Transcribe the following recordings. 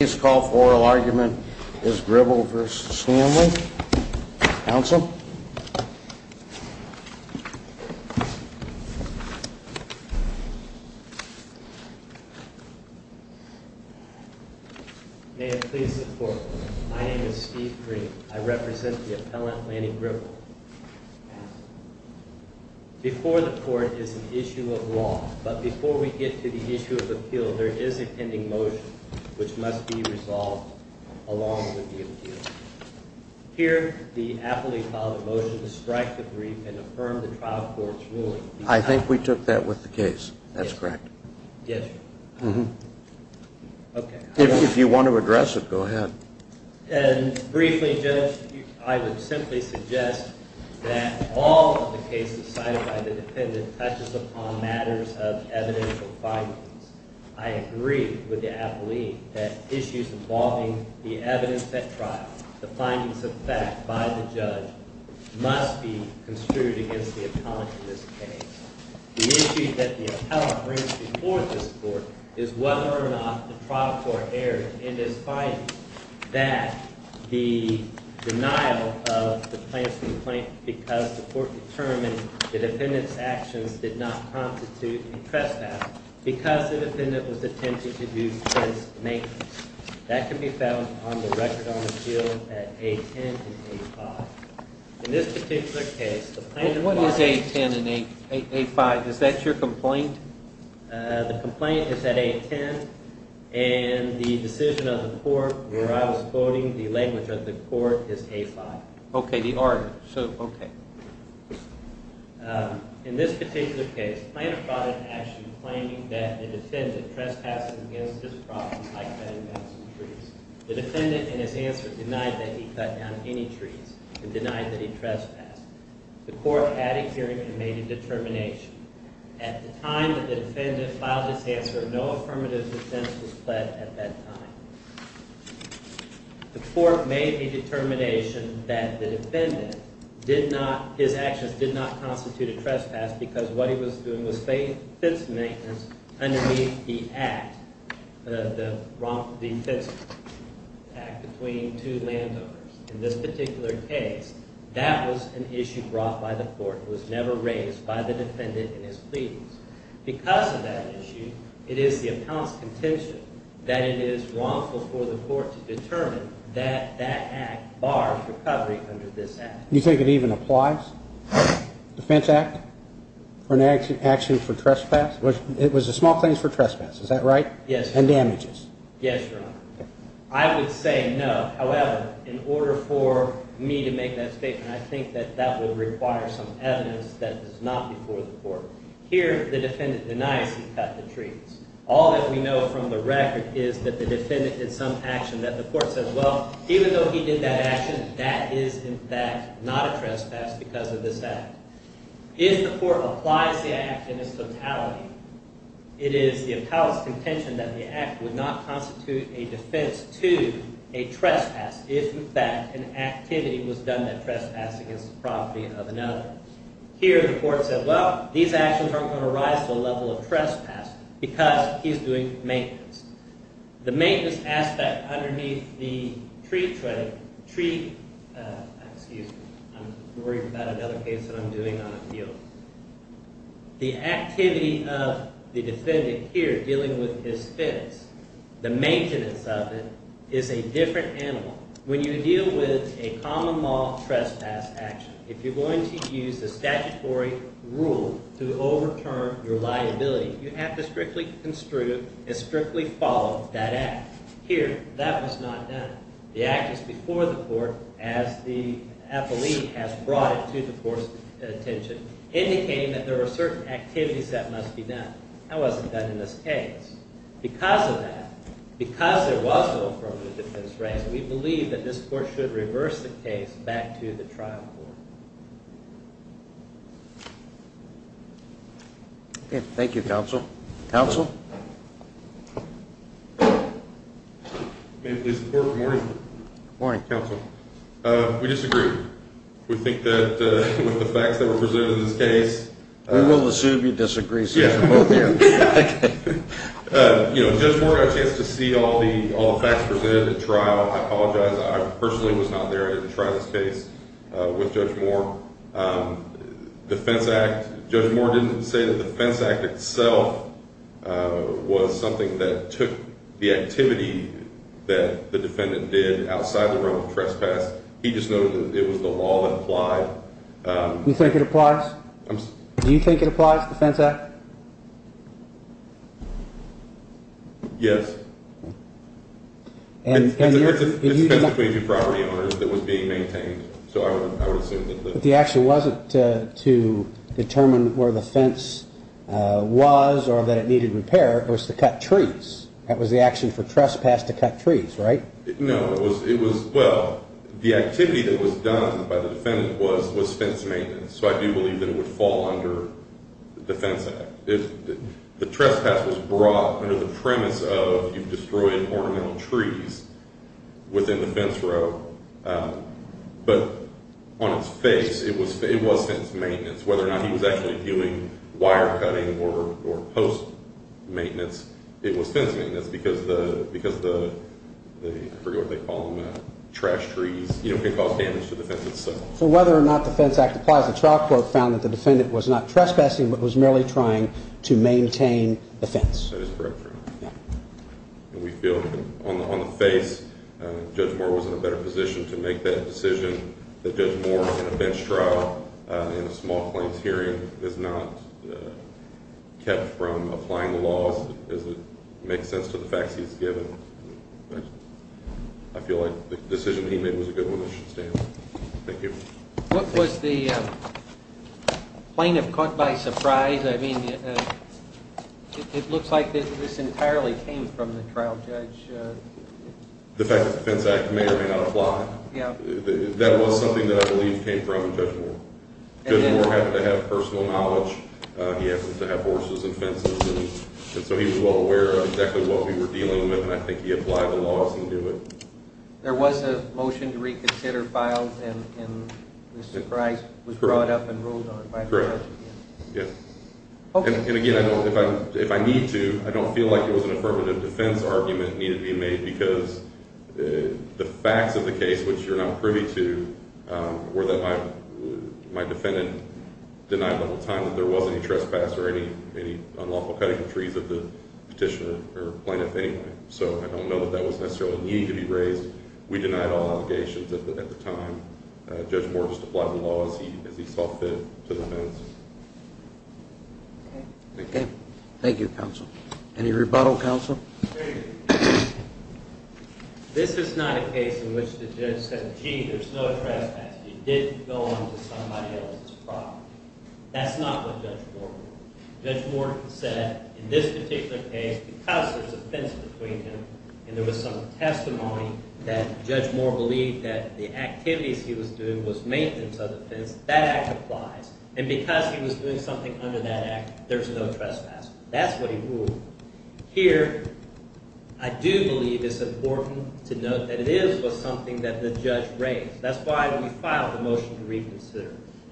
May it please the court, my name is Steve Green, I represent the appellant Lanny Gribble. Before the court is an issue of law, but before we get to the issue of appeal there is a pending motion which must be resolved along with the appeal. Here the appellee filed a motion to strike the brief and affirm the trial court's ruling. I think we took that with the case, that's correct. If you want to address it, go ahead. Briefly, I would simply suggest that all of the cases cited by the defendant touches upon matters of evidential findings. I agree with the appellee that issues involving the evidence at trial, the findings of fact by the judge must be construed against the appellant in this case. The issue that the appellant brings before this court is whether or not the trial court erred in this finding that the denial of the plaintiff's complaint because the court determined the defendant's actions did not constitute a trespass because the defendant was attempting to do trespass maintenance. That can be found on the record on the field at A10 and A5. In this particular case, the plaintiff filed… What is A10 and A5? Is that your complaint? The complaint is at A10 and the decision of the court where I was quoting the language of the court is A5. Okay, the argument. In this particular case, the plaintiff brought an action claiming that the defendant trespassed against his property by cutting down some trees. The defendant, in his answer, denied that he cut down any trees and denied that he trespassed. The court, at a hearing, made a determination. At the time that the defendant filed his answer, no affirmative defense was pled at that time. The court made a determination that the defendant did not, his actions did not constitute a trespass because what he was doing was fencing maintenance underneath the act, the fencing act between two landowners. In this particular case, that was an issue brought by the court. It was never raised by the defendant in his pleadings. Because of that issue, it is the appellant's contention that it is wrongful for the court to determine that that act bars recovery under this act. You think it even applies? Defense act or an action for trespass? It was a small thing for trespass, is that right? Yes, Your Honor. And damages? Yes, Your Honor. I would say no. However, in order for me to make that statement, I think that that would require some evidence that is not before the court. Here, the defendant denies he cut the trees. All that we know from the record is that the defendant did some action that the court said, well, even though he did that action, that is, in fact, not a trespass because of this act. If the court applies the act in its totality, it is the appellant's contention that the act would not constitute a defense to a trespass if, in fact, an activity was done that trespassed against the property of another. Here, the court said, well, these actions aren't going to rise to the level of trespass because he's doing maintenance. The maintenance aspect underneath the tree, excuse me, I'm worried about another case that I'm doing on a field. The activity of the defendant here dealing with his fence, the maintenance of it is a different animal. When you deal with a common law trespass action, if you're going to use the statutory rule to overturn your liability, you have to strictly construe and strictly follow that act. Here, that was not done. The act is before the court as the appellee has brought it to the court's attention, indicating that there are certain activities that must be done. That wasn't done in this case. Because of that, because there was no affirmative defense raised, we believe that this court should reverse the case back to the trial court. Okay, thank you, counsel. Counsel? May it please the court, good morning. Good morning. Counsel, we disagree. We think that with the facts that were presented in this case We will assume you disagree since you're both here. Judge Moore, I had a chance to see all the facts presented at trial. I apologize, I personally was not there to try this case with Judge Moore. Judge Moore didn't say that the fence act itself was something that took the activity that the defendant did outside the realm of trespass. He just noted that it was the law that applied. You think it applies? Do you think it applies, the fence act? Yes. It's a fence between two property owners that was being maintained. But the action wasn't to determine where the fence was or that it needed repair. It was to cut trees. That was the action for trespass, to cut trees, right? No, it was, well, the activity that was done by the defendant was fence maintenance. So I do believe that it would fall under the defense act. The trespass was brought under the premise of you've destroyed ornamental trees within the fence row. But on its face, it was fence maintenance. Whether or not he was actually doing wire cutting or post maintenance, it was fence maintenance because the, I forget what they call them, trash trees, you know, can cause damage to the fence itself. So whether or not the fence act applies, the trial court found that the defendant was not trespassing but was merely trying to maintain the fence. That is correct, Your Honor. We feel that on the face, Judge Moore was in a better position to make that decision. That Judge Moore, in a bench trial, in a small claims hearing, is not kept from applying the laws. It doesn't make sense to the facts he's given. I feel like the decision he made was a good one that should stand. Thank you. What was the plaintiff caught by surprise? I mean, it looks like this entirely came from the trial judge. The fact that the Fence Act may or may not apply. That was something that I believe came from Judge Moore. Judge Moore happened to have personal knowledge. He happens to have horses and fences, and so he was well aware of exactly what we were dealing with, and I think he applied the laws and knew it. There was a motion to reconsider filed, and Mr. Price was brought up and ruled on by the judge. Yes. And again, if I need to, I don't feel like it was an affirmative defense argument needed to be made because the facts of the case, which you're not privy to, were that my defendant denied the whole time that there was any trespass or any unlawful cutting of trees of the petitioner or plaintiff anyway. So I don't know that that was necessarily needed to be raised. We denied all allegations at the time. Judge Moore just applied the law as he saw fit to the fence. Okay. Thank you, counsel. Any rebuttal, counsel? This is not a case in which the judge said, gee, there's no trespass. You didn't go on to somebody else's property. That's not what Judge Moore ruled. Judge Moore said, in this particular case, because there's a fence between him and there was some testimony that Judge Moore believed that the activities he was doing was maintenance of the fence, that act applies. And because he was doing something under that act, there's no trespass. That's what he ruled. Here, I do believe it's important to note that it is something that the judge raised.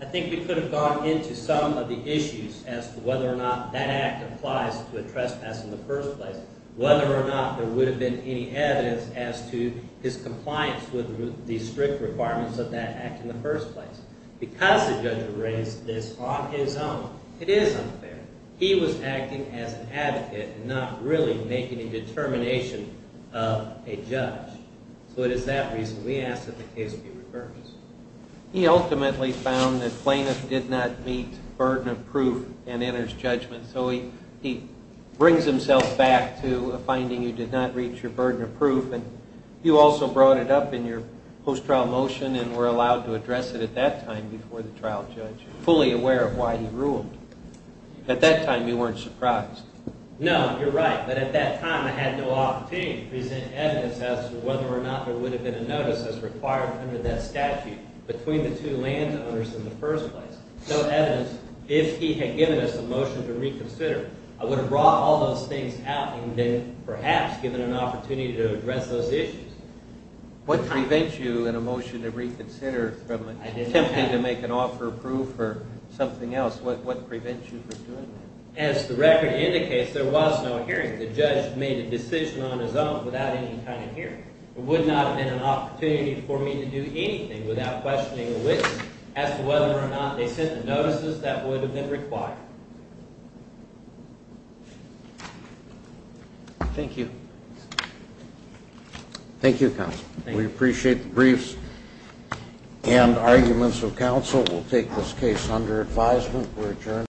I think we could have gone into some of the issues as to whether or not that act applies to a trespass in the first place, whether or not there would have been any evidence as to his compliance with the strict requirements of that act in the first place. Because the judge raised this on his own, it is unfair. He was acting as an advocate and not really making a determination of a judge. So it is that reason we ask that the case be reversed. He ultimately found that plaintiff did not meet burden of proof and enters judgment. So he brings himself back to a finding you did not reach your burden of proof. And you also brought it up in your post-trial motion and were allowed to address it at that time before the trial judge, fully aware of why he ruled. At that time, you weren't surprised. No, you're right. But at that time, I had no opportunity to present evidence as to whether or not there would have been a notice as required under that statute between the two landowners in the first place. No evidence. If he had given us a motion to reconsider, I would have brought all those things out and then perhaps given an opportunity to address those issues. What prevents you in a motion to reconsider from attempting to make an offer of proof or something else? What prevents you from doing that? As the record indicates, there was no hearing. The judge made a decision on his own without any kind of hearing. It would not have been an opportunity for me to do anything without questioning a witness as to whether or not they sent the notices that would have been required. Thank you. Thank you, counsel. We appreciate the briefs and arguments of counsel. We'll take this case under advisement. We're adjourned.